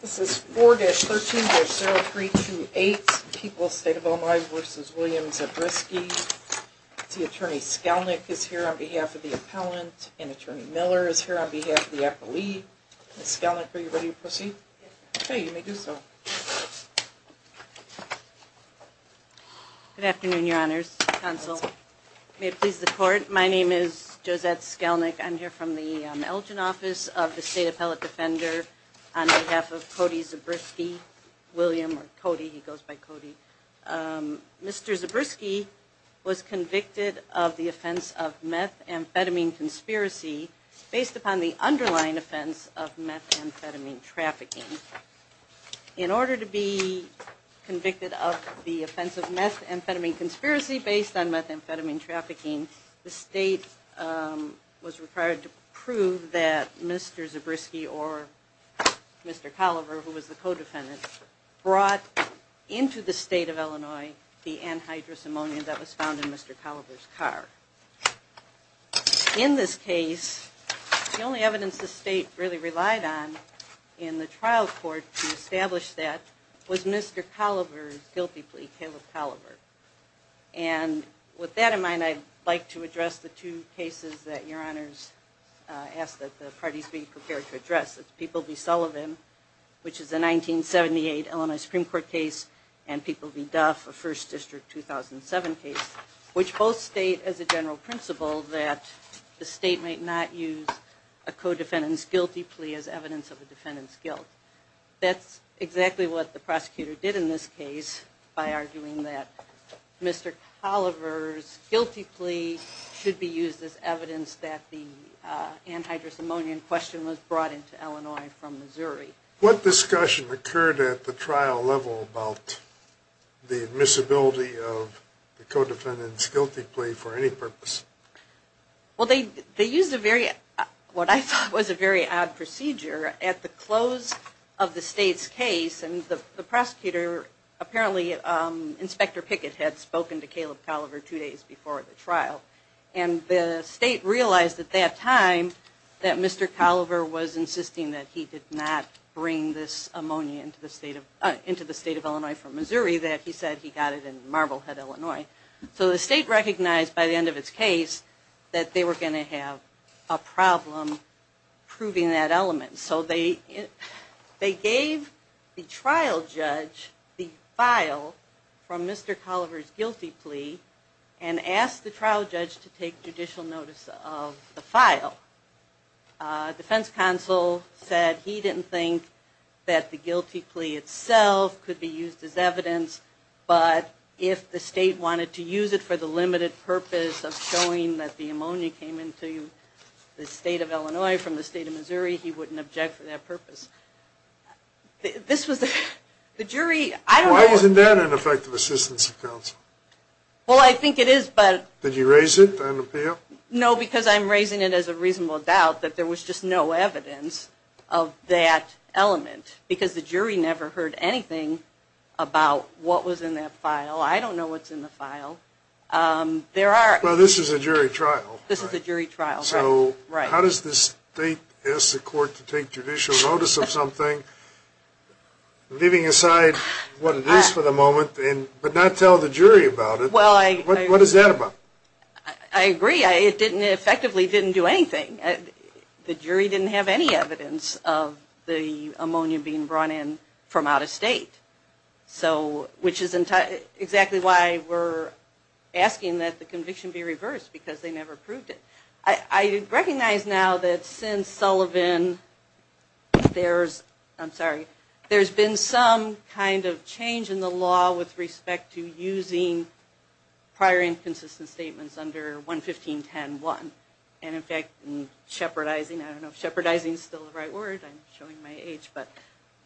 This is 4-13-0328, People's State of Illinois v. Williams-Zabriskie. Attorney Skelnick is here on behalf of the appellant, and Attorney Miller is here on behalf of the appellee. Ms. Skelnick, are you ready to proceed? Okay, you may do so. Good afternoon, your honors, counsel. May it please the court, my name is Josette Skelnick. I'm here from the Elgin office of the State Appellate Defender on behalf of Cody Zabriskie. William or Cody, he goes by Cody. Mr. Zabriskie was convicted of the offense of methamphetamine conspiracy based upon the underlying offense of methamphetamine trafficking. In order to be convicted of the offense of methamphetamine conspiracy based on methamphetamine trafficking, the state was required to prove that Mr. Zabriskie or Mr. Colliver, who was the co-defendant, brought into the state of Illinois the anhydrous ammonia that was found in Mr. Colliver's car. In this case, the only evidence the state really relied on in the trial court to establish that was Mr. Colliver's guilty plea, Caleb Colliver. And with that in mind, I'd like to address the two cases that your honors asked that the parties be prepared to address. It's People v. Sullivan, which is a 1978 Illinois Supreme Court case, and People v. Duff, a First District 2007 case, which both state as a general principle that the state might not use a co-defendant's guilty plea as evidence of the defendant's guilt. That's exactly what the prosecutor did in this case, by arguing that Mr. Colliver's guilty plea should be used as evidence that the anhydrous ammonia in question was brought into Illinois from Missouri. What discussion occurred at the trial level about the admissibility of the co-defendant's guilty plea for any purpose? Well, they used a very, what I thought was a very odd procedure, at the close of the state's case, and the prosecutor, apparently Inspector Pickett had spoken to Caleb Colliver two days before the trial, and the state realized at that time that Mr. Colliver was insisting that he did not bring this ammonia into the state of Illinois from Missouri, that he said he got it in Marblehead, Illinois. So the state recognized by the end of its case that they were going to have a problem proving that element. So they gave the trial judge the file from Mr. Colliver's guilty plea, and asked the trial judge to take judicial notice of the file. Defense counsel said he didn't think that the guilty plea itself could be used as evidence, but if the state wanted to use it for the limited purpose of showing that the ammonia came into the state of Illinois from the state of Missouri, he wouldn't object for that purpose. This was the, the jury, I don't know. Why isn't that an effective assistance of counsel? Well, I think it is, but. Did you raise it on appeal? No, because I'm raising it as a reasonable doubt that there was just no evidence of that element, because the jury never heard anything about what was in that file. I don't know what's in the file. There are. Well, this is a jury trial. This is a jury trial, right. So how does the state ask the court to take judicial notice of something, leaving aside what it is for the moment, but not tell the jury about it? Well, I. What is that about? I agree. It didn't, it effectively didn't do anything. The jury didn't have any evidence of the ammonia being brought in from out of state. So, which is exactly why we're asking that the conviction be reversed, because they never proved it. I recognize now that since Sullivan, there's, I'm sorry, there's been some kind of change in the law with respect to using prior inconsistent statements under 115.10.1. And in fact, in shepherdizing, I don't know if shepherdizing is still the right word, I'm showing my age, but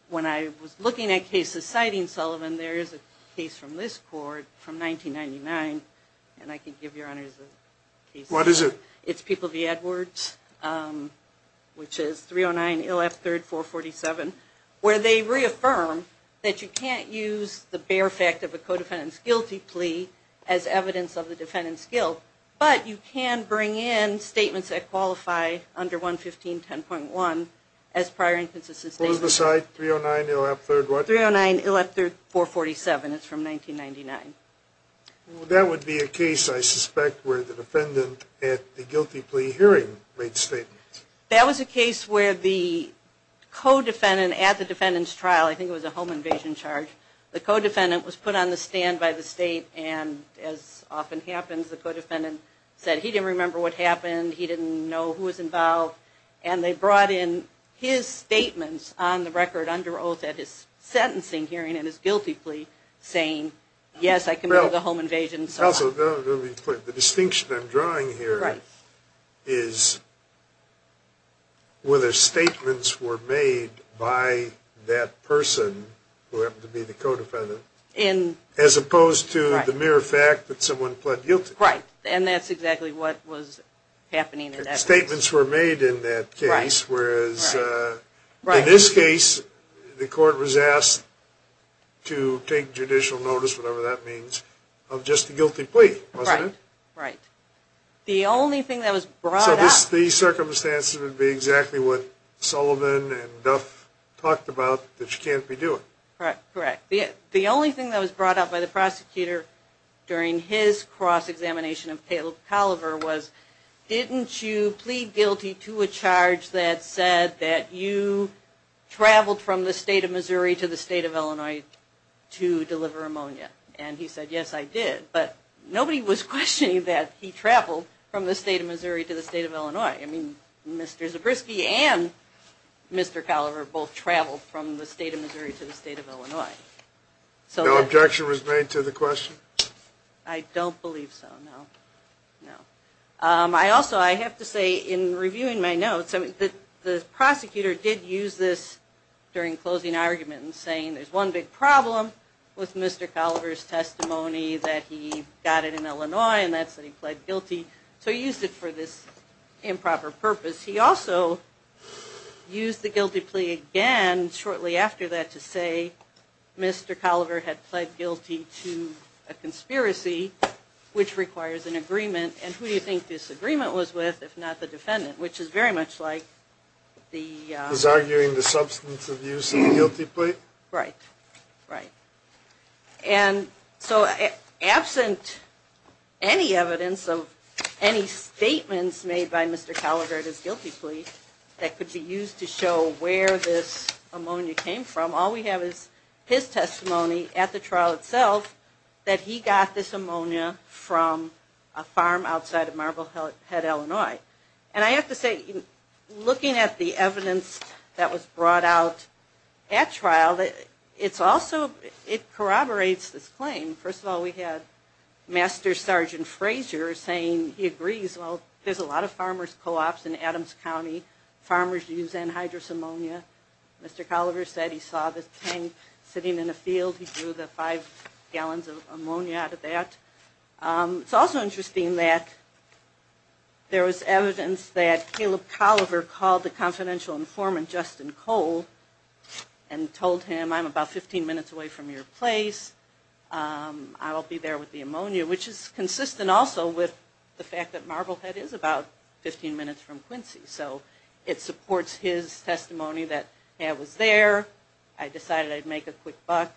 when I was looking at cases citing Sullivan, there is a case from this court from 1999, and I can give your honors the case. What is it? It's People v. Edwards, which is 309, ILF 3rd, 447, where they reaffirm that you can't use the bare fact of a co-defendant's guilty plea as evidence of the defendant's guilt, but you can bring in statements that qualify under 115.10.1 as prior inconsistent statements. What was the cite? 309, ILF 3rd, what? 309, ILF 3rd, 447. It's from 1999. Well, that would be a case, I suspect, where the defendant at the guilty plea hearing made statements. That was a case where the co-defendant at the defendant's trial, I think it was a home invasion charge, the co-defendant was put on the stand by the state, and as often happens, the co-defendant said he didn't remember what happened, he didn't know who was involved, and they brought in his statements on the record under oath at his sentencing hearing and his guilty plea saying, yes, I committed a home invasion, and so on. The distinction I'm drawing here is whether statements were made by that person, who happened to be the co-defendant, as opposed to the mere fact that someone pled guilty. Right, and that's exactly what was happening in that case. Statements were made in that case, whereas in this case, the court was asked to take additional notice, whatever that means, of just the guilty plea, wasn't it? Right. The only thing that was brought up... So these circumstances would be exactly what Sullivan and Duff talked about, that you can't redo it. Correct. The only thing that was brought up by the prosecutor during his cross-examination of Caleb Colliver was, didn't you plead guilty to a charge that said that you traveled from the state of Missouri to the state of Illinois to deliver ammonia? And he said, yes, I did, but nobody was questioning that he traveled from the state of Missouri to the state of Illinois. I mean, Mr. Zabriskie and Mr. Colliver both traveled from the state of Missouri to the state of Illinois. No objection was made to the question? I don't believe so, no. I also, I have to say, in reviewing my notes, the prosecutor did use this during closing argument in saying there's one big problem with Mr. Colliver's testimony, that he got it in Illinois and that's that he pled guilty. So he used it for this improper purpose. He also used the guilty plea again shortly after that to say Mr. Colliver had pled guilty to a conspiracy which requires an agreement and who do you think this agreement was with if not the defendant, which is very much like the... He's arguing the substance of use of the guilty plea? Right, right. And so absent any evidence of any statements made by Mr. Colliver at his guilty plea that could be used to show where this ammonia came from, all we have is his testimony at the trial that he got this ammonia from a farm outside of Marblehead, Illinois. And I have to say, looking at the evidence that was brought out at trial, it's also, it corroborates this claim. First of all, we had Master Sergeant Fraser saying he agrees, well, there's a lot of farmer's co-ops in Adams County, farmers use anhydrous ammonia. Mr. Colliver said he saw the tank sitting in a field, he drew the five gallons of ammonia out of that. It's also interesting that there was evidence that Caleb Colliver called the confidential informant, Justin Cole, and told him I'm about 15 minutes away from your place, I'll be there with the ammonia, which is consistent also with the fact that Marblehead is about 15 minutes from Quincy. So, it supports his testimony that I was there, I decided I'd make a quick buck.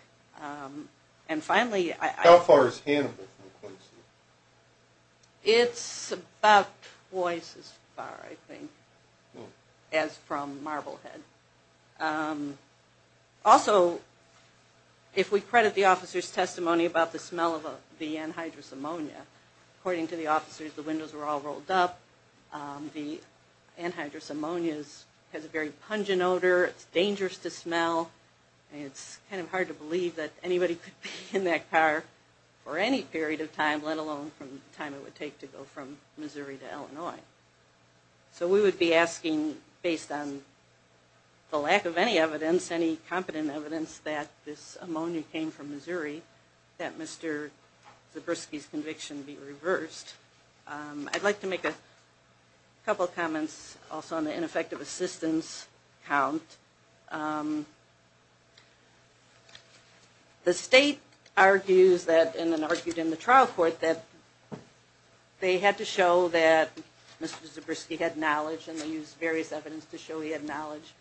And finally... How far is Hannibal from Quincy? It's about twice as far, I think, as from Marblehead. Also, if we credit the officer's testimony about the smell of the anhydrous ammonia, according to the officers, the windows were all rolled up, the anhydrous ammonia has a very pungent odor, it's dangerous to smell, and it's kind of hard to believe that anybody could be in that car for any period of time, let alone from the time it would take to go from Missouri to Illinois. So, we would be asking, based on the lack of any evidence, any competent evidence, that this ammonia came from Missouri, that Mr. Zabriskie's conviction be reversed. I'd like to make a couple comments also on the ineffective assistance count. The state argues that, and then argued in the trial court, that they had to show that Mr. Zabriskie had knowledge, and they used various evidence to show he had knowledge.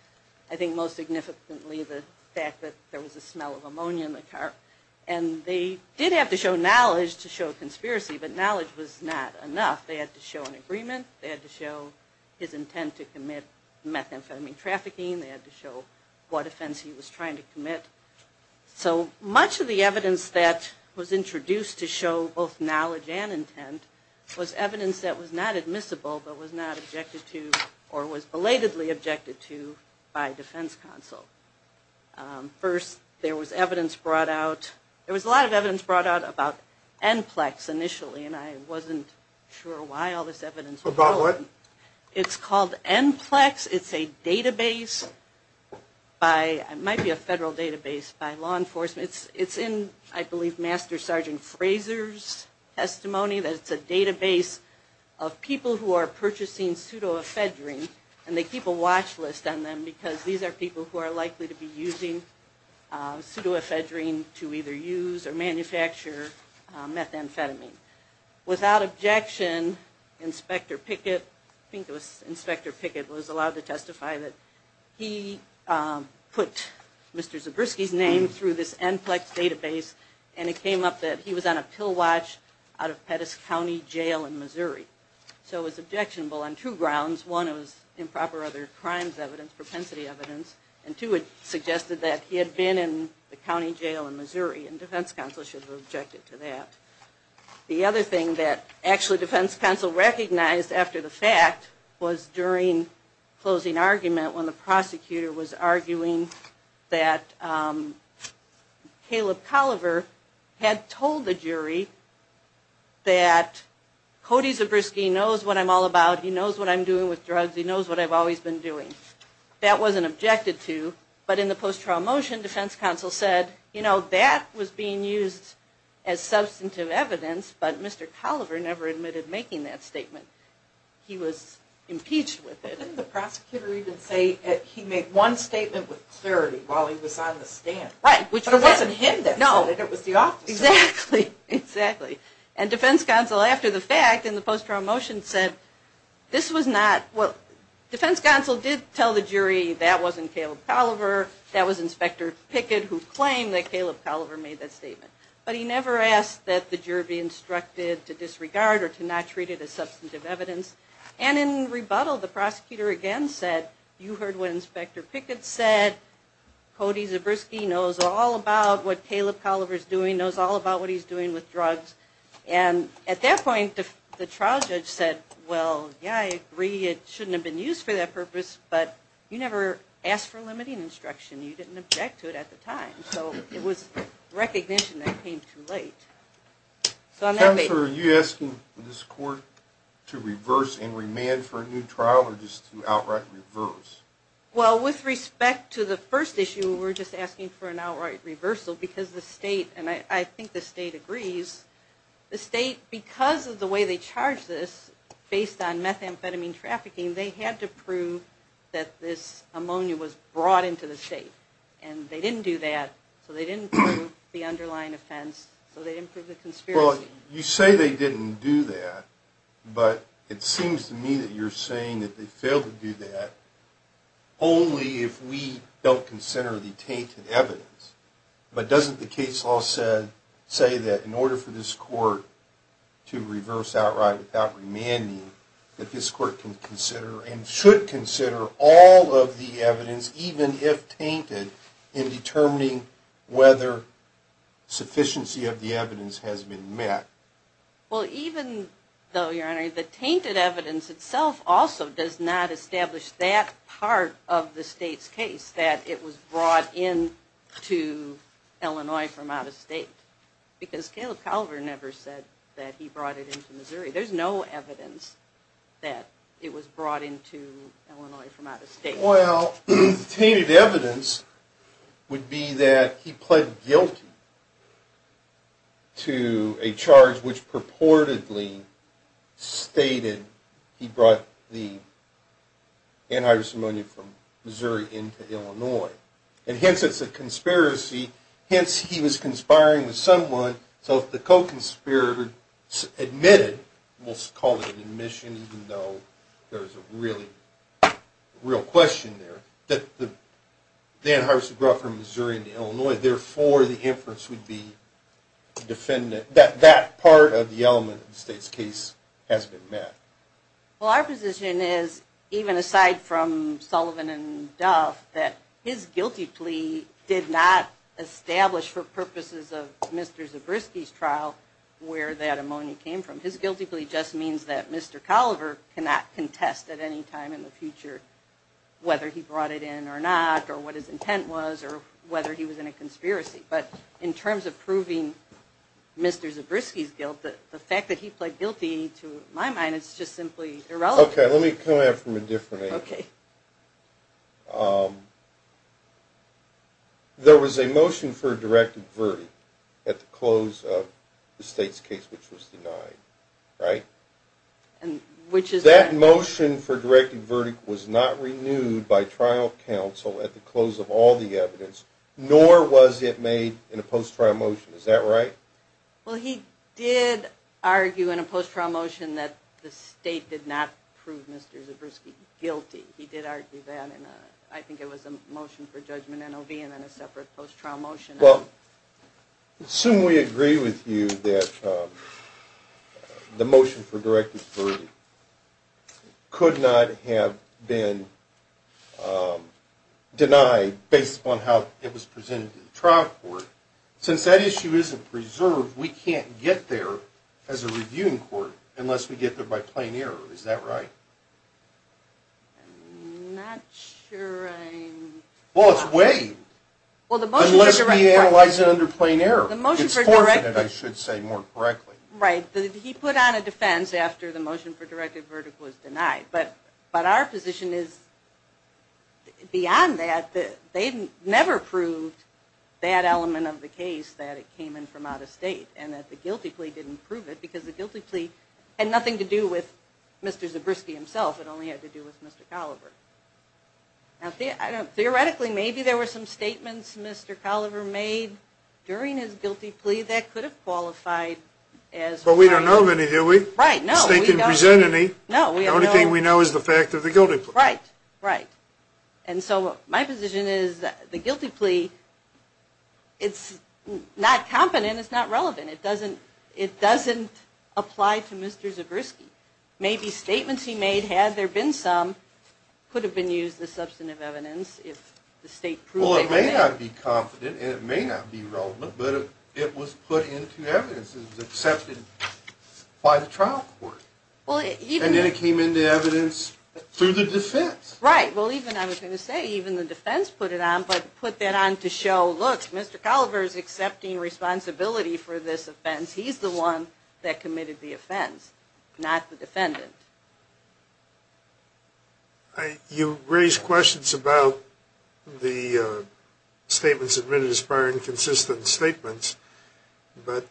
I think most significantly the fact that there was a smell of ammonia in the car. And they did have to show knowledge to show a conspiracy, but knowledge was not enough. They had to show an agreement, they had to show his intent to commit methamphetamine trafficking, they had to show what offense he was trying to commit. So, much of the evidence that was introduced to show both knowledge and intent was evidence that was not admissible, but was not objected to, or was belatedly objected to, by defense counsel. First, there was evidence brought out, there was a lot of evidence brought out about ENPLEX initially, and I wasn't sure why all this evidence was brought out. About what? It's called ENPLEX. It's a database by, it might be a federal database, by law enforcement. It's in, I believe, Master Sergeant Fraser's testimony that it's a database of people who are purchasing pseudoephedrine, and they keep a watch list on them because these are people who are likely to be using pseudoephedrine to either use or manufacture methamphetamine. Without objection, Inspector Pickett, I think it was Inspector Pickett was allowed to testify that he put Mr. Zabriskie's name through this ENPLEX database, and it came up that he was on a pill watch out of Pettis County Jail in Missouri. So it was objectionable on two grounds. One, it was improper other crimes evidence, propensity evidence, and two, it suggested that he had been in the county jail in Missouri, and defense counsel should have objected to that. The other thing that actually defense counsel recognized after the fact was during closing argument when the prosecutor was arguing that Caleb Colliver had told the jury that, Cody Zabriskie knows what I'm all about. He knows what I'm doing with drugs. He knows what I've always been doing. That wasn't objected to. But in the post-trial motion, defense counsel said, you know, that was being used as substantive evidence, but Mr. Colliver never admitted making that statement. He was impeached with it. Didn't the prosecutor even say that he made one statement with clarity while he was on the stand? Right. But it wasn't him that said it. No. It was the officer. Exactly. Exactly. And defense counsel after the fact in the post-trial motion said, this was not, well, defense counsel did tell the jury that wasn't Caleb Colliver, that was Inspector Pickett who claimed that Caleb Colliver made that statement. But he never asked that the jury be instructed to disregard or to not treat it as substantive evidence. And in rebuttal, the prosecutor again said, you heard what Inspector Pickett said. Cody Zabriskie knows all about what Caleb Colliver is doing, knows all about what he's doing with drugs. And at that point, the trial judge said, well, yeah, I agree. It shouldn't have been used for that purpose, but you never asked for limiting instruction. You didn't object to it at the time. So it was recognition that it came too late. Counselor, are you asking this court to reverse and remand for a new trial or just to outright reverse? Well, with respect to the first issue, we're just asking for an outright reversal because the state, and I think the state agrees, the state, because of the way they charged this, based on methamphetamine trafficking, they had to prove that this ammonia was brought into the state. And they didn't do that, so they didn't prove the underlying offense, so they didn't prove the conspiracy. Well, you say they didn't do that, but it seems to me that you're saying that they failed to do that only if we don't consider the tainted evidence. But doesn't the case law say that in order for this court to reverse outright without remanding, that this court can consider and should consider all of the evidence, even if tainted, in determining whether sufficiency of the evidence has been met? Well, even though, Your Honor, the tainted evidence itself also does not establish that part of the state's case, that it was brought into Illinois from out of state. Because Caleb Calver never said that he brought it into Missouri. There's no evidence that it was brought into Illinois from out of state. Well, the tainted evidence would be that he pled guilty to a charge which purportedly stated he brought the antivirus ammonia from Missouri into Illinois. And hence it's a conspiracy, hence he was conspiring with someone. So if the co-conspirator admitted, we'll call it an admission even though there's a real question there, that the antivirus was brought from Missouri into Illinois, therefore the inference would be that that part of the element of the state's case has been met. Well, our position is, even aside from Sullivan and Duff, that his guilty plea did not establish for purposes of Mr. Zabriskie's trial where that ammonia came from. His guilty plea just means that Mr. Calver cannot contest at any time in the future whether he brought it in or not, or what his intent was, or whether he was in a conspiracy. But in terms of proving Mr. Zabriskie's guilt, the fact that he pled guilty, to my mind, is just simply irrelevant. Okay, let me come at it from a different angle. There was a motion for a directed verdict at the close of the state's case which was denied, right? That motion for a directed verdict was not renewed by trial counsel at the close of all the evidence, nor was it made in a post-trial motion, is that right? Well, he did argue in a post-trial motion that the state did not prove Mr. Zabriskie guilty. He did argue that in a, I think it was a motion for judgment NOV and then a separate post-trial motion. Well, assume we agree with you that the motion for directed verdict could not have been denied based upon how it was presented to the trial court. Since that issue isn't preserved, we can't get there as a reviewing court unless we get there by plain error. Is that right? I'm not sure I'm... Well, it's waived unless we analyze it under plain error. The motion for directed... It's forfeited, I should say, more correctly. Right, he put on a defense after the motion for directed verdict was denied. But our position is beyond that. They never proved that element of the case that it came in from out of state and that the guilty plea didn't prove it because the guilty plea had nothing to do with Mr. Zabriskie himself. It only had to do with Mr. Colliver. Theoretically, maybe there were some statements Mr. Colliver made during his guilty plea that could have qualified as... But we don't know of any, do we? Right, no. The state didn't present any. The only thing we know is the fact of the guilty plea. Right, right. And so my position is that the guilty plea, it's not confident, it's not relevant, it doesn't apply to Mr. Zabriskie. Maybe statements he made, had there been some, could have been used as substantive evidence if the state proved they were there. Well, it may not be confident and it may not be relevant, but it was put into evidence and it was accepted by the trial court. And then it came into evidence through the defense. Right. Well, even, I was going to say, even the defense put it on, but put that on to show, look, Mr. Colliver is accepting responsibility for this offense. He's the one that committed the offense, not the defendant. You raised questions about the statements admitted as prior inconsistent statements. But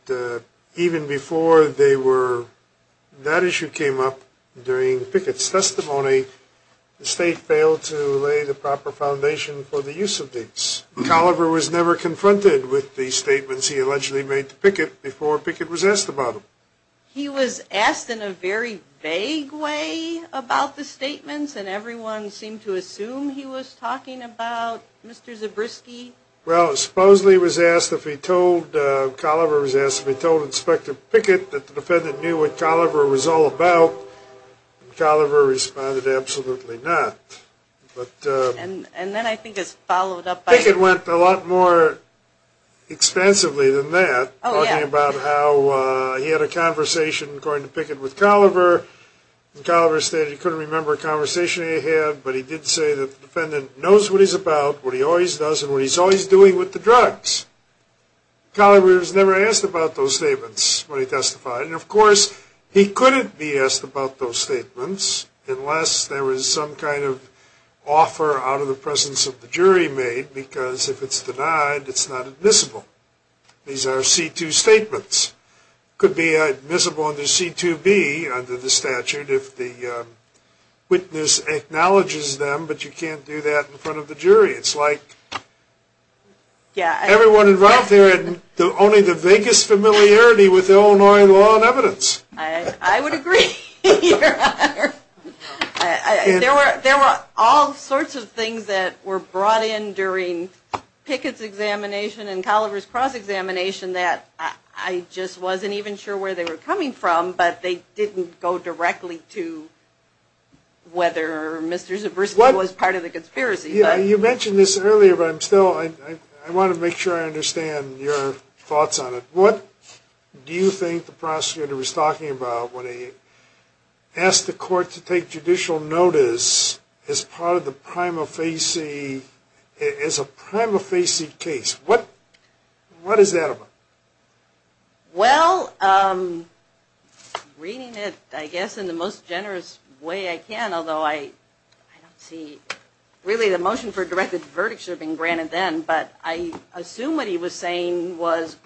even before they were, that issue came up during Pickett's testimony, the state failed to lay the proper foundation for the use of these. Colliver was never confronted with the statements he allegedly made to Pickett before Pickett was asked about them. He was asked in a very vague way about the statements and everyone seemed to assume he was talking about Mr. Zabriskie. Well, supposedly he was asked if he told, Colliver was asked if he told Inspector Pickett that the defendant knew what Colliver was all about. And Colliver responded, absolutely not. And then I think it's followed up by I think it went a lot more expansively than that. Oh, yeah. Talking about how he had a conversation, according to Pickett, with Colliver. And Colliver stated he couldn't remember a conversation he had, but he did say that the defendant knows what he's about, what he always does, and what he's always doing with the drugs. Colliver was never asked about those statements when he testified. And, of course, he couldn't be asked about those statements unless there was some kind of offer out of the presence of the jury made, because if it's denied, it's not admissible. These are C-2 statements. Could be admissible under C-2B under the statute if the witness acknowledges them, but you can't do that in front of the jury. It's like everyone involved here had only the vaguest familiarity with Illinois law and evidence. I would agree, Your Honor. There were all sorts of things that were brought in during Pickett's examination and Colliver's cross-examination that I just wasn't even sure where they were coming from, but they didn't go directly to whether Mr. Zabriskie was part of the conspiracy. You mentioned this earlier, but I want to make sure I understand your thoughts on it. What do you think the prosecutor was talking about when he asked the court to take judicial notice as part of the prima facie, as a prima facie case? What is that about? Well, reading it, I guess, in the most generous way I can, although I don't see really the motion for a directed verdict should have been granted then, but I assume what he was saying was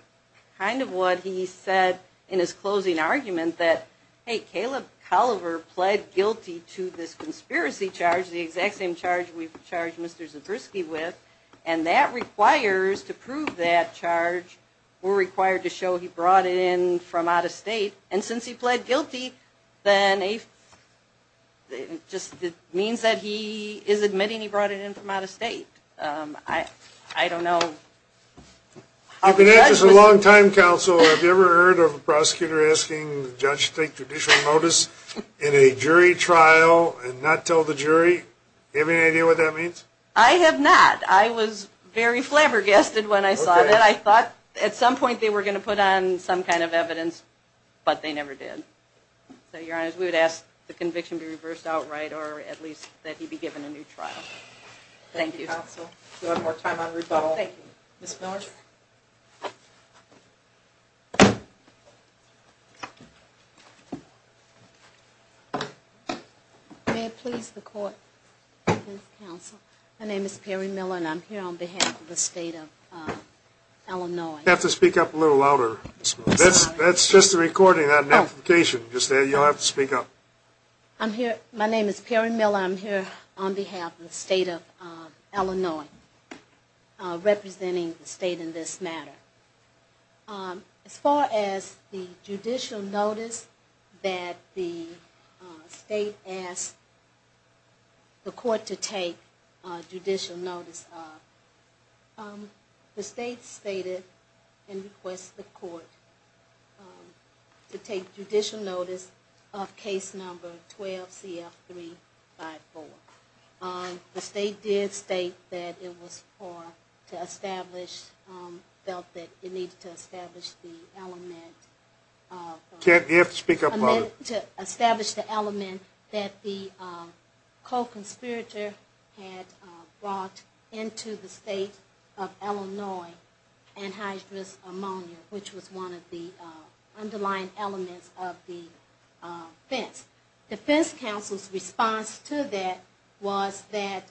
kind of what he said in his closing argument that, hey, Caleb Colliver pled guilty to this conspiracy charge, the exact same charge we've charged Mr. Zabriskie with, and that requires, to prove that charge, we're required to show he brought it in from out of state, and since he pled guilty, then it just means that he is admitting he brought it in from out of state. I don't know. You've been at this a long time, counsel. Have you ever heard of a prosecutor asking the judge to take judicial notice in a jury trial and not tell the jury? Do you have any idea what that means? I have not. I was very flabbergasted when I saw that. I thought at some point they were going to put on some kind of evidence, but they never did. So, Your Honor, we would ask the conviction be reversed outright, or at least that he be given a new trial. Thank you, counsel. Do you want more time on rebuttal? Thank you. Ms. Miller? May it please the court, counsel. My name is Perry Miller, and I'm here on behalf of the state of Illinois. You have to speak up a little louder. That's just a recording, not an amplification. You'll have to speak up. I'm here. My name is Perry Miller. I'm here on behalf of the state of Illinois, representing the state in this matter. As far as the judicial notice that the state asked the court to take judicial notice of, the state stated and requested the court to take judicial notice of case number 12CF354. The state did state that it was for, to establish, felt that it needed to establish the element. You have to speak up louder. That the co-conspirator had brought into the state of Illinois anhydrous ammonia, which was one of the underlying elements of the defense. Defense counsel's response to that was that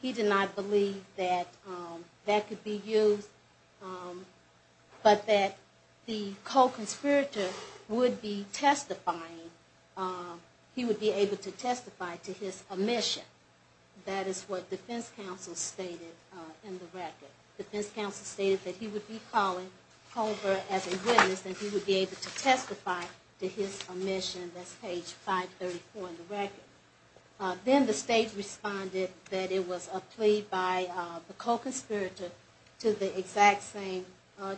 he did not believe that that could be used, but that the co-conspirator would be testifying. He would be able to testify to his omission. That is what defense counsel stated in the record. Defense counsel stated that he would be calling Culver as a witness and he would be able to testify to his omission. That's page 534 in the record. Then the state responded that it was a plea by the co-conspirator to the exact same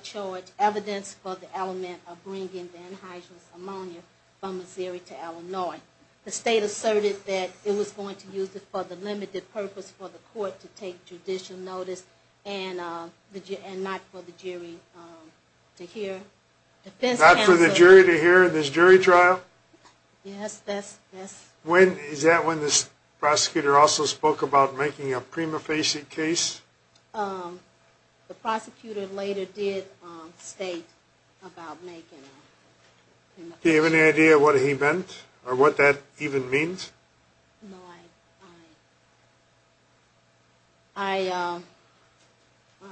charge, evidence for the element of bringing the anhydrous ammonia from Missouri to Illinois. The state asserted that it was going to use it for the limited purpose for the court to take judicial notice and not for the jury to hear. Not for the jury to hear in this jury trial? Yes. Is that when the prosecutor also spoke about making a prima facie case? The prosecutor later did state about making a prima facie case. Do you have any idea what he meant or what that even means? No,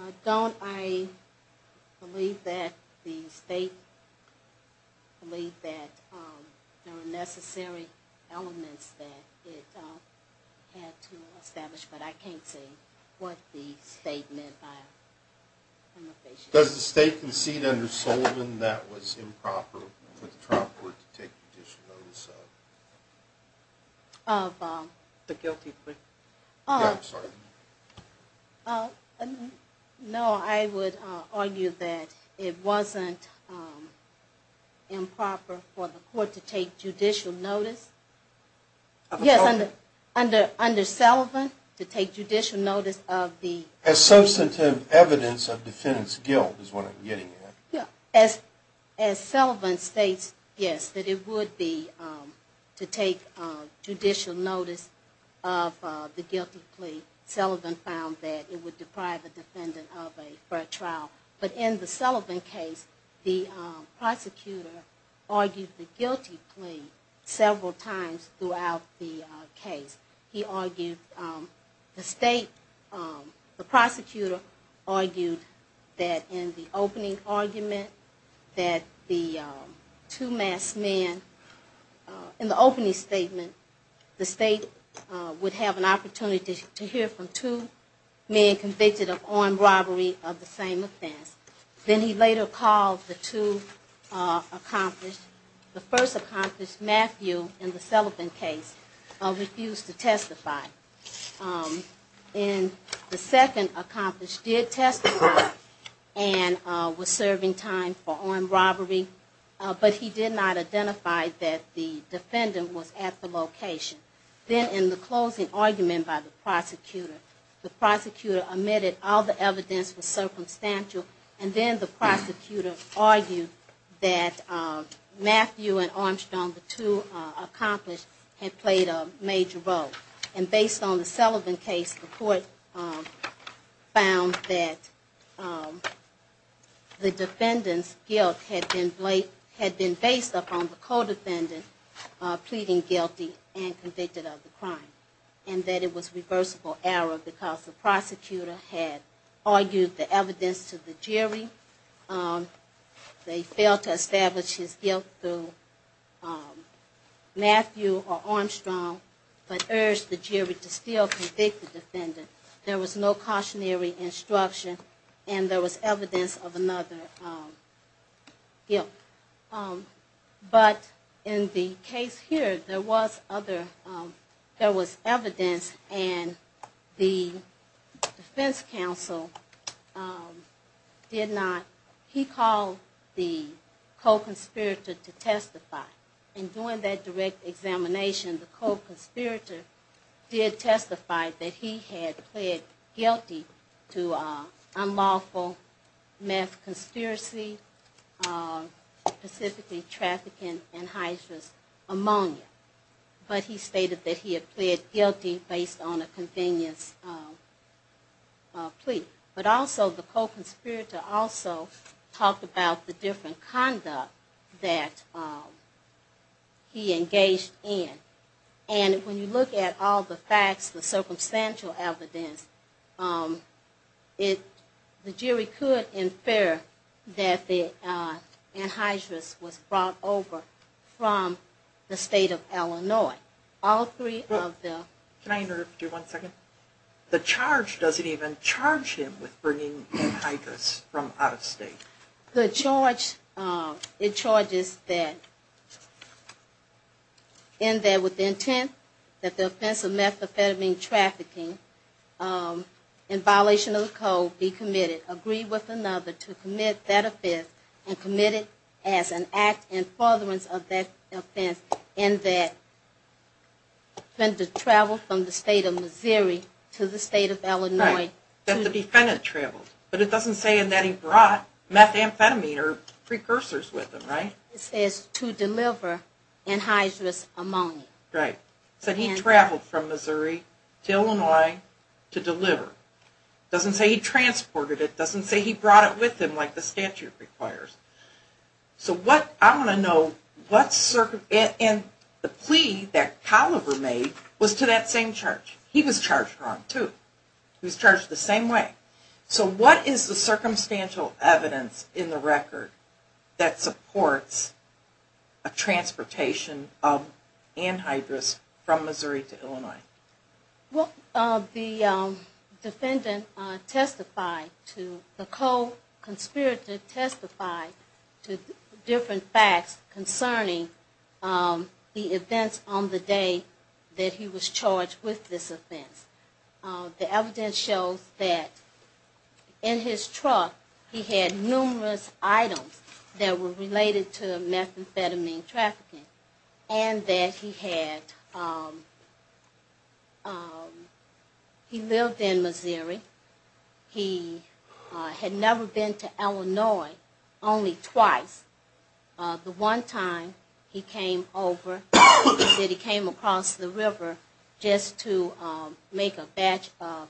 I don't. I believe that the state believed that there were necessary elements that it had to establish, but I can't say what the state meant by a prima facie case. Does the state concede under Sullivan that it was improper for the trial court to take judicial notice of the guilty plea? No, I would argue that it wasn't improper for the court to take judicial notice. Under Sullivan? Yes, under Sullivan to take judicial notice of the guilty plea. As substantive evidence of defendant's guilt is what I'm getting at. As Sullivan states, yes, that it would be to take judicial notice of the guilty plea. Sullivan found that it would deprive the defendant of a fair trial. But in the Sullivan case, the prosecutor argued the guilty plea several times throughout the case. He argued, the state, the prosecutor argued that in the opening argument that the two masked men, in the opening statement, the state would have an opportunity to hear from two men convicted of armed robbery of the same offense. Then he later called the two accomplices. The first accomplice, Matthew, in the Sullivan case, refused to testify. And the second accomplice did testify and was serving time for armed robbery, but he did not identify that the defendant was at the location. Then in the closing argument by the prosecutor, the prosecutor admitted all the evidence was circumstantial. And then the prosecutor argued that Matthew and Armstrong, the two accomplices, had played a major role. And based on the Sullivan case, the court found that the defendant's guilt had been based upon the co-defendant pleading guilty and convicted of the crime. And that it was reversible error because the prosecutor had argued the evidence to the jury. They failed to establish his guilt through Matthew or Armstrong, but urged the jury to still convict the defendant. There was no cautionary instruction and there was evidence of another guilt. But in the case here, there was evidence and the defense counsel did not. He called the co-conspirator to testify. And during that direct examination, the co-conspirator did testify that he had pled guilty to unlawful meth conspiracy. Specifically trafficking in high-risk ammonia. But he stated that he had pled guilty based on a convenience plea. But also the co-conspirator also talked about the different conduct that he engaged in. And when you look at all the facts, the circumstantial evidence, the jury could infer that the anhydrous was brought over from the state of Illinois. Can I interrupt you one second? The charge doesn't even charge him with bringing anhydrous from out of state. The charge, it charges that in there with the intent that the offense of methamphetamine trafficking in violation of the code be committed. Agree with another to commit that offense and commit it as an act in furtherance of that offense in that the defendant traveled from the state of Missouri to the state of Illinois. But it doesn't say in that he brought methamphetamine or precursors with him, right? It says to deliver anhydrous ammonia. Right. So he traveled from Missouri to Illinois to deliver. It doesn't say he transported it. It doesn't say he brought it with him like the statute requires. So what I want to know, and the plea that Colliver made was to that same charge. He was charged wrong too. He was charged the same way. So what is the circumstantial evidence in the record that supports a transportation of anhydrous from Missouri to Illinois? Well, the defendant testified to, the co-conspirator testified to different facts concerning the events on the day that he was charged with this offense. The evidence shows that in his truck he had numerous items that were related to methamphetamine trafficking. And that he had, he lived in Missouri. He had never been to Illinois, only twice. The one time he came over, that he came across the river just to make a batch of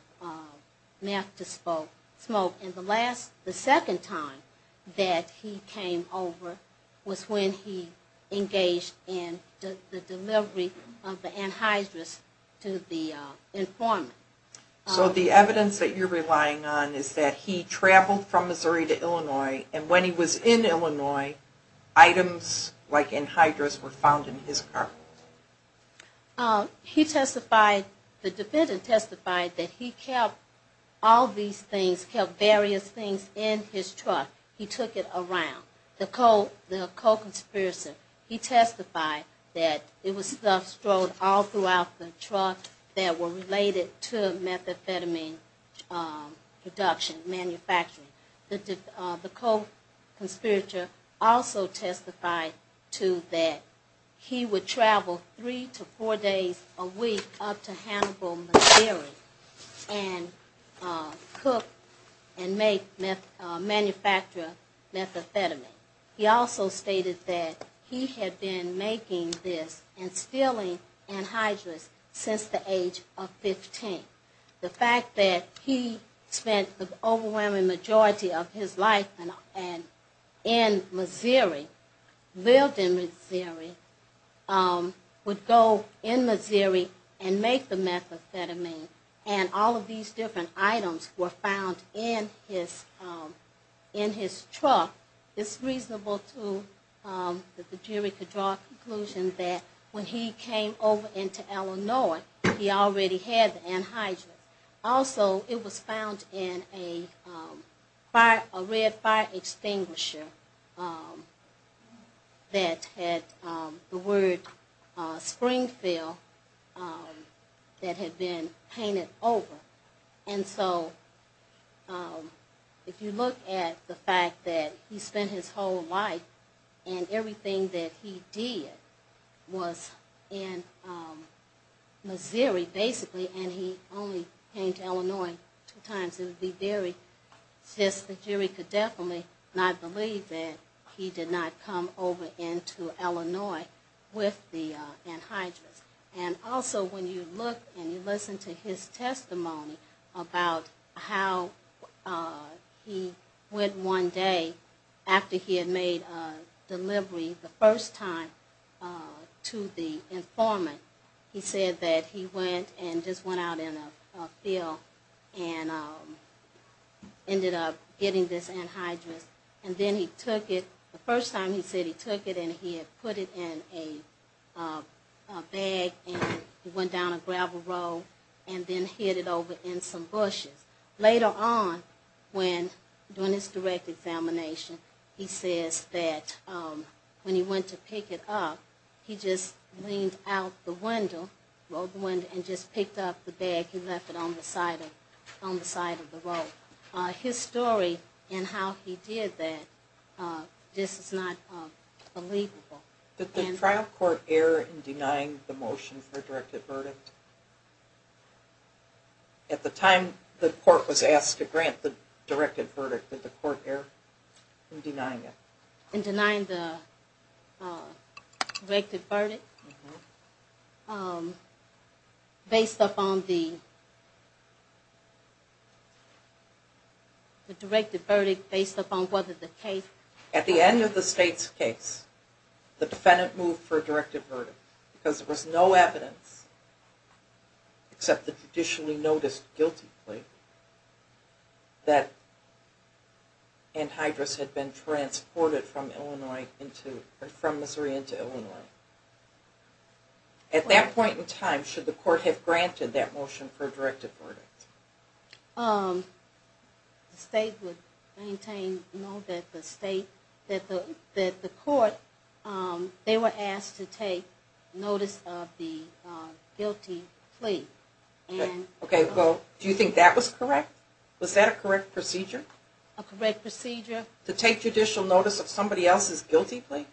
meth to smoke. And the last, the second time that he came over was when he engaged in the delivery of the anhydrous to the informant. So the evidence that you're relying on is that he traveled from Missouri to Illinois. And when he was in Illinois, items like anhydrous were found in his car. He testified, the defendant testified that he kept all these things, kept various things in his truck. He took it around. The co-conspirator, he testified that it was stuff stowed all throughout the truck that were related to methamphetamine production, manufacturing. The co-conspirator also testified to that he would travel three to four days a week up to Hannibal, Missouri and cook and make, manufacture methamphetamine. He also stated that he had been making this and stealing anhydrous since the age of 15. The fact that he spent the overwhelming majority of his life in Missouri, lived in Missouri, would go in Missouri and make the methamphetamine. And all of these different items were found in his truck. It's reasonable, too, that the jury could draw a conclusion that when he came over into Illinois, he already had the anhydrous. Also, it was found in a fire, a red fire extinguisher that had the word Springfield that had been painted over. And so, if you look at the fact that he spent his whole life and everything that he did was in Missouri, basically, and he only came to Illinois two times. It would be very, just the jury could definitely not believe that he did not come over into Illinois with the anhydrous. And also, when you look and you listen to his testimony about how he went one day after he had made a delivery the first time to the informant. He said that he went and just went out in a field and ended up getting this anhydrous. And then he took it, the first time he said he took it and he had put it in a bag and he went down a gravel road and then hid it over in some bushes. Later on, when, during his direct examination, he says that when he went to pick it up, he just leaned out the window, rolled the window, and just picked up the bag and left it on the side of the road. His story and how he did that just is not believable. Did the trial court err in denying the motion for a directed verdict? At the time the court was asked to grant the directed verdict, did the court err in denying it? In denying the directed verdict? At the end of the state's case, the defendant moved for a directed verdict because there was no evidence, except the judicially noticed guilty plea, that anhydrous had been transported from Missouri into Illinois. At that point in time, should the court have granted that motion for a directed verdict? The state would maintain, no, that the state, that the court, they were asked to take notice of the guilty plea. Okay, well, do you think that was correct? Was that a correct procedure? To take judicial notice of somebody else's guilty plea?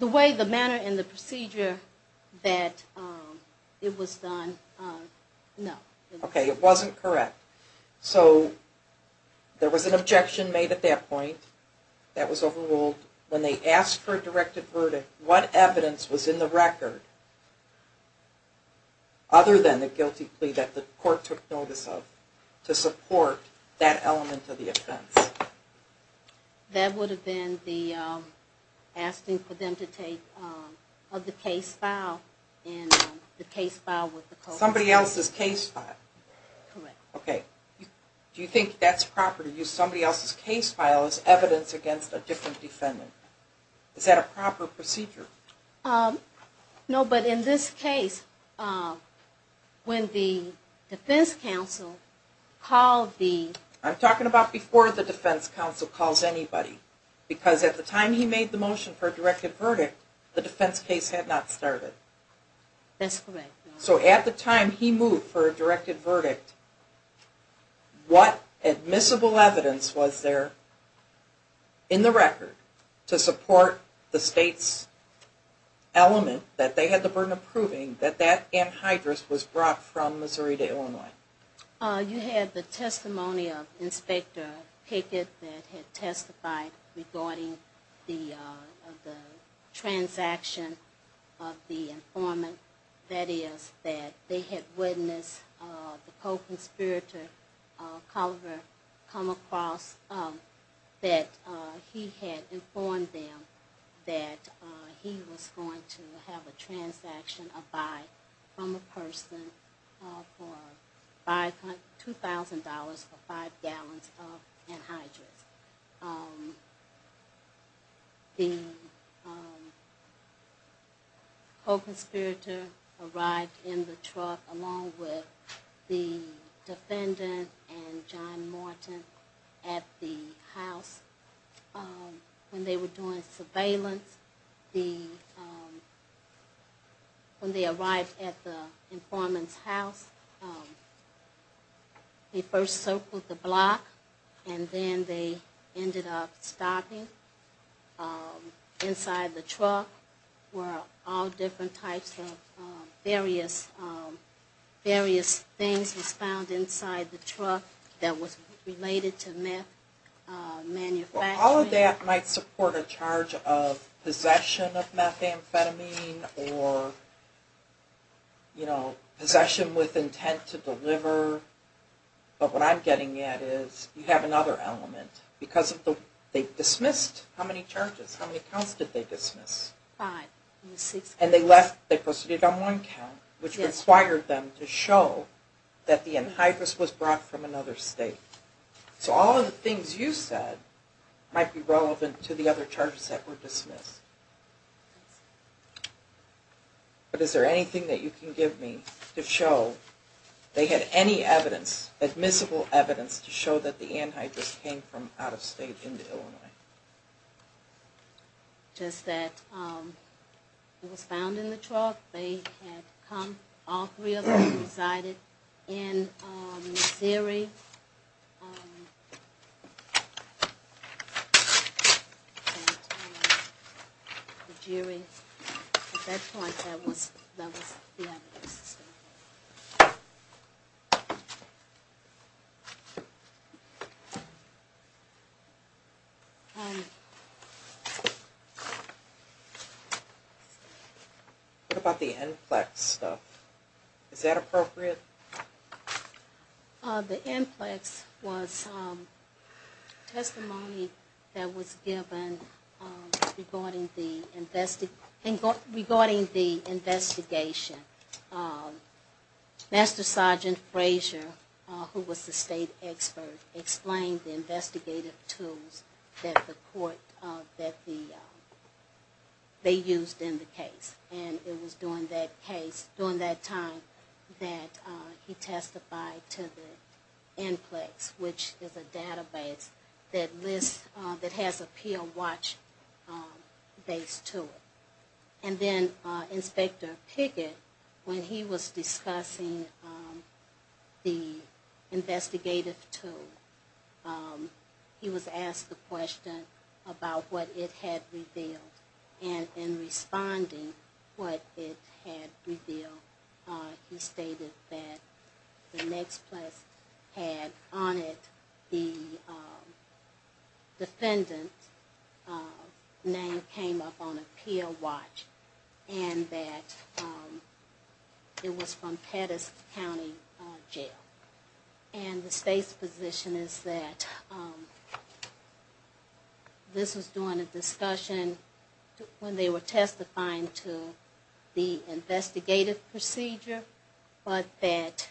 The way, the manner, and the procedure that it was done, no. Okay, it wasn't correct. So, there was an objection made at that point, that was overruled. When they asked for a directed verdict, what evidence was in the record, other than the guilty plea that the court took notice of, to support that element of the offense? That would have been the asking for them to take, of the case file, and the case file with the court. Somebody else's case file? Okay, do you think that's proper, to use somebody else's case file as evidence against a different defendant? Is that a proper procedure? No, but in this case, when the defense counsel called the... I'm talking about before the defense counsel calls anybody. Because at the time he made the motion for a directed verdict, the defense case had not started. That's correct. So at the time he moved for a directed verdict, what admissible evidence was there in the record to support the state's element, that they had the burden of proving, that that anhydrous was brought from Missouri to Illinois? You had the testimony of Inspector Pickett that had testified regarding the transaction of the anhydrous. That is, that they had witnessed the co-conspirator, Colliver, come across that he had informed them that he was going to have a transaction, a buy, from a person for $2,000 for 5 gallons of anhydrous. The co-conspirator arrived in the truck along with the defendant and John Morton at the house. When they were doing surveillance, when they arrived at the informant's house, they first circled the block, and then they... ended up stopping inside the truck where all different types of various things was found inside the truck that was related to meth manufacturing. Well, all of that might support a charge of possession of methamphetamine or, you know, possession with intent to deliver. But what I'm getting at is, you have another element. Because of the... they dismissed how many charges? How many counts did they dismiss? And they left... they proceeded on one count, which inspired them to show that the anhydrous was brought from another state. So all of the things you said might be relevant to the other charges that were dismissed. But is there anything that you can give me to show they had any evidence, admissible evidence, to show that the anhydrous came from out-of-state into Illinois? Just that it was found in the truck, they had come, all three of them resided in Missouri. And the jury, at that point, that was the evidence. What about the Enflex stuff? Is that appropriate? The Enflex was testimony that was given regarding the investigation. Master Sergeant Frazier, who was the state expert, explained the investigative tools that the court... that they used in the case. And it was during that case, during that time, that he testified to the Enflex, which is a database that lists... that has a pill watch base to it. And then Inspector Pickett, when he was discussing the investigative tool, he was asked the question about what it had revealed. And in responding, what it had revealed, he stated that the next place had on it the defendant's name came up on a pill watch, and that it was from Pettis County Jail. And the state's position is that this was during a discussion, and that the defendant's name came up on a pill watch, and that it was from Pettis County Jail. And that's when they were testifying to the investigative procedure, but that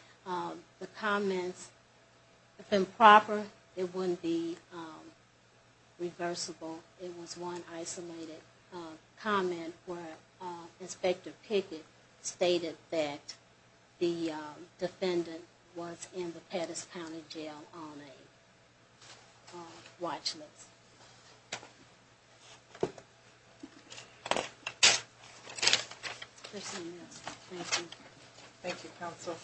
the comments, if improper, it wouldn't be reversible. It was one isolated comment where Inspector Pickett stated that the defendant was in the Pettis County Jail on a watch list. Thank you. Thank you, counsel.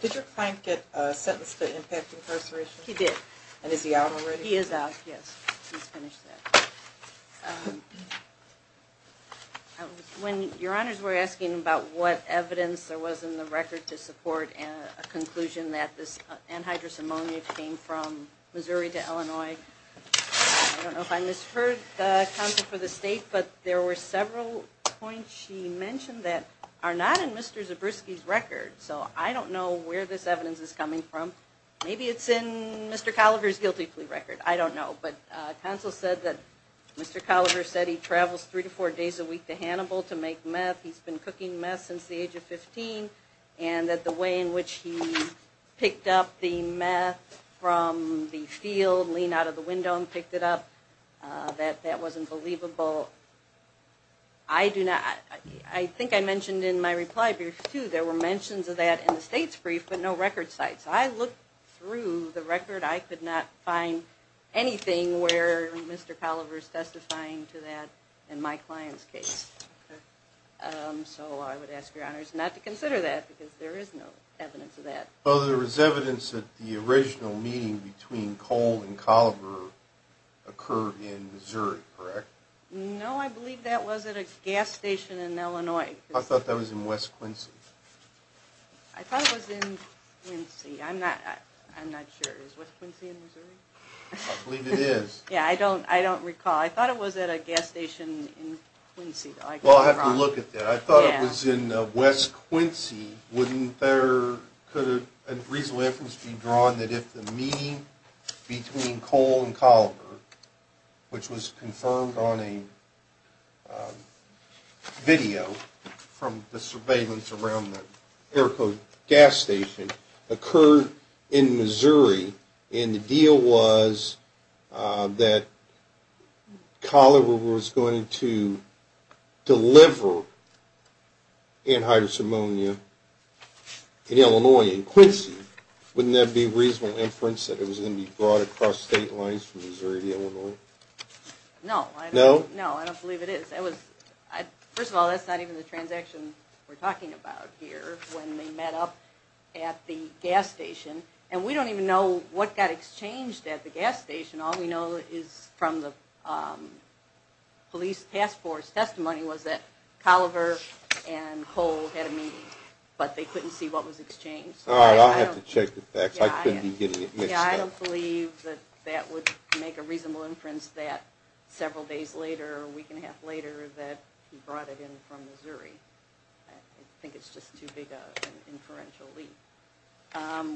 Did your client get sentenced to impact incarceration? He did. And is he out already? He is out, yes. When your honors were asking about what evidence there was in the record to support a conclusion that this anhydrous ammonia came from Missouri to Illinois, I don't know if I misheard the counsel for the state, but there were several points she mentioned that are not in Mr. Zabriskie's record. So I don't know where this evidence is coming from. Maybe it's in Mr. Colliver's guilty plea record. I don't know. But counsel said that Mr. Colliver said he travels three to four days a week to Hannibal to make meth. He's been cooking meth since the age of 15, and that the way in which he picked up the meth from the field, leaned out of the window and picked it up, that that was unbelievable. I think I mentioned in my reply brief, too, there were mentions of that in the state's brief, but no record sites. I looked through the record. I could not find anything where Mr. Colliver's testifying to that in my client's case. So I would ask your honors not to consider that, because there is no evidence of that. Well, there is evidence that the original meeting between Cole and Colliver occurred in Missouri, correct? No, I believe that was at a gas station in Illinois. I thought that was in West Quincy. I'm not sure. I believe it is. I thought it was at a gas station in Quincy. Well, I'll have to look at that. I thought it was in West Quincy. Couldn't there be a reasonable inference being drawn that if the meeting between Cole and Colliver, which was confirmed on a video from the surveillance around the Airco gas station, occurred in Missouri and the deal was that Colliver was going to deliver anhydrous ammonia in Illinois in Quincy, wouldn't there be a reasonable inference that it was going to be brought across state lines from Missouri to Illinois? No, I don't believe it is. First of all, that's not even the transaction we're talking about here. When they met up at the gas station, and we don't even know what got exchanged at the gas station. All we know is from the police task force testimony was that Colliver and Cole had a meeting, but they couldn't see what was exchanged. All right, I'll have to check the facts.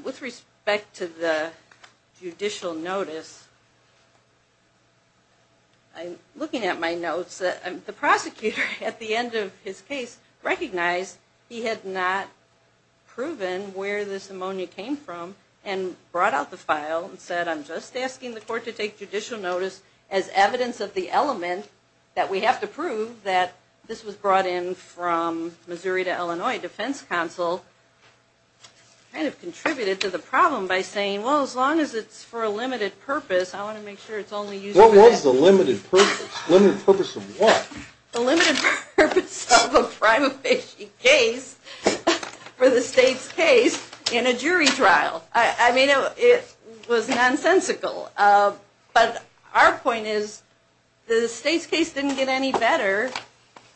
With respect to the judicial notice, looking at my notes, the prosecutor at the end of his case recognized he had not proven where this ammonia came from and brought out the file and said, I'm just asking the court to take judicial notice as evidence of the element that we have to prove that this was brought in from Missouri to Illinois defense counsel, kind of contributed to the problem by saying, well, as long as it's for a limited purpose, I want to make sure it's only used for that. What was the limited purpose? The limited purpose of what? The limited purpose of a prima facie case for the state's case in a jury trial. It was nonsensical, but our point is the state's case didn't get any better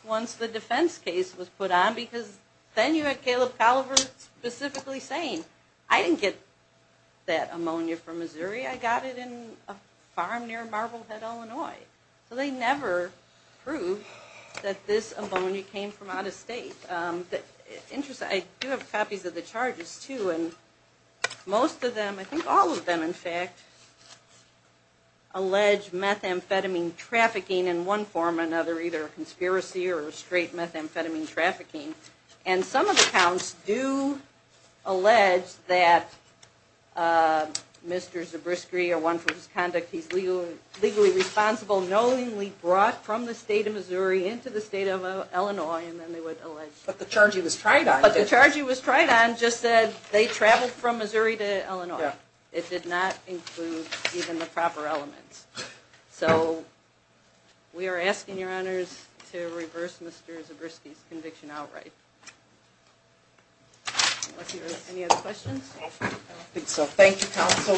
once the defense case was put on because then you had Caleb Colliver specifically saying, I didn't get that ammonia from Missouri, I got it in a farm near Marblehead, Illinois. So they never proved that this ammonia came from out of state. I do have copies of the charges too, and most of them, I think all of them in fact, allege methamphetamine trafficking in one form or another, either a conspiracy or straight methamphetamine trafficking. And some of the counts do allege that Mr. Zabriskie or one from his conduct, he's legally responsible, knowingly brought from the state of Missouri into the state of Illinois, and then they would allege. But the charge he was tried on just said they traveled from Missouri to Illinois. It did not include even the proper elements. So we are asking your honors to reverse Mr. Zabriskie's conviction outright. Any other questions? I don't think so. Thank you, counsel.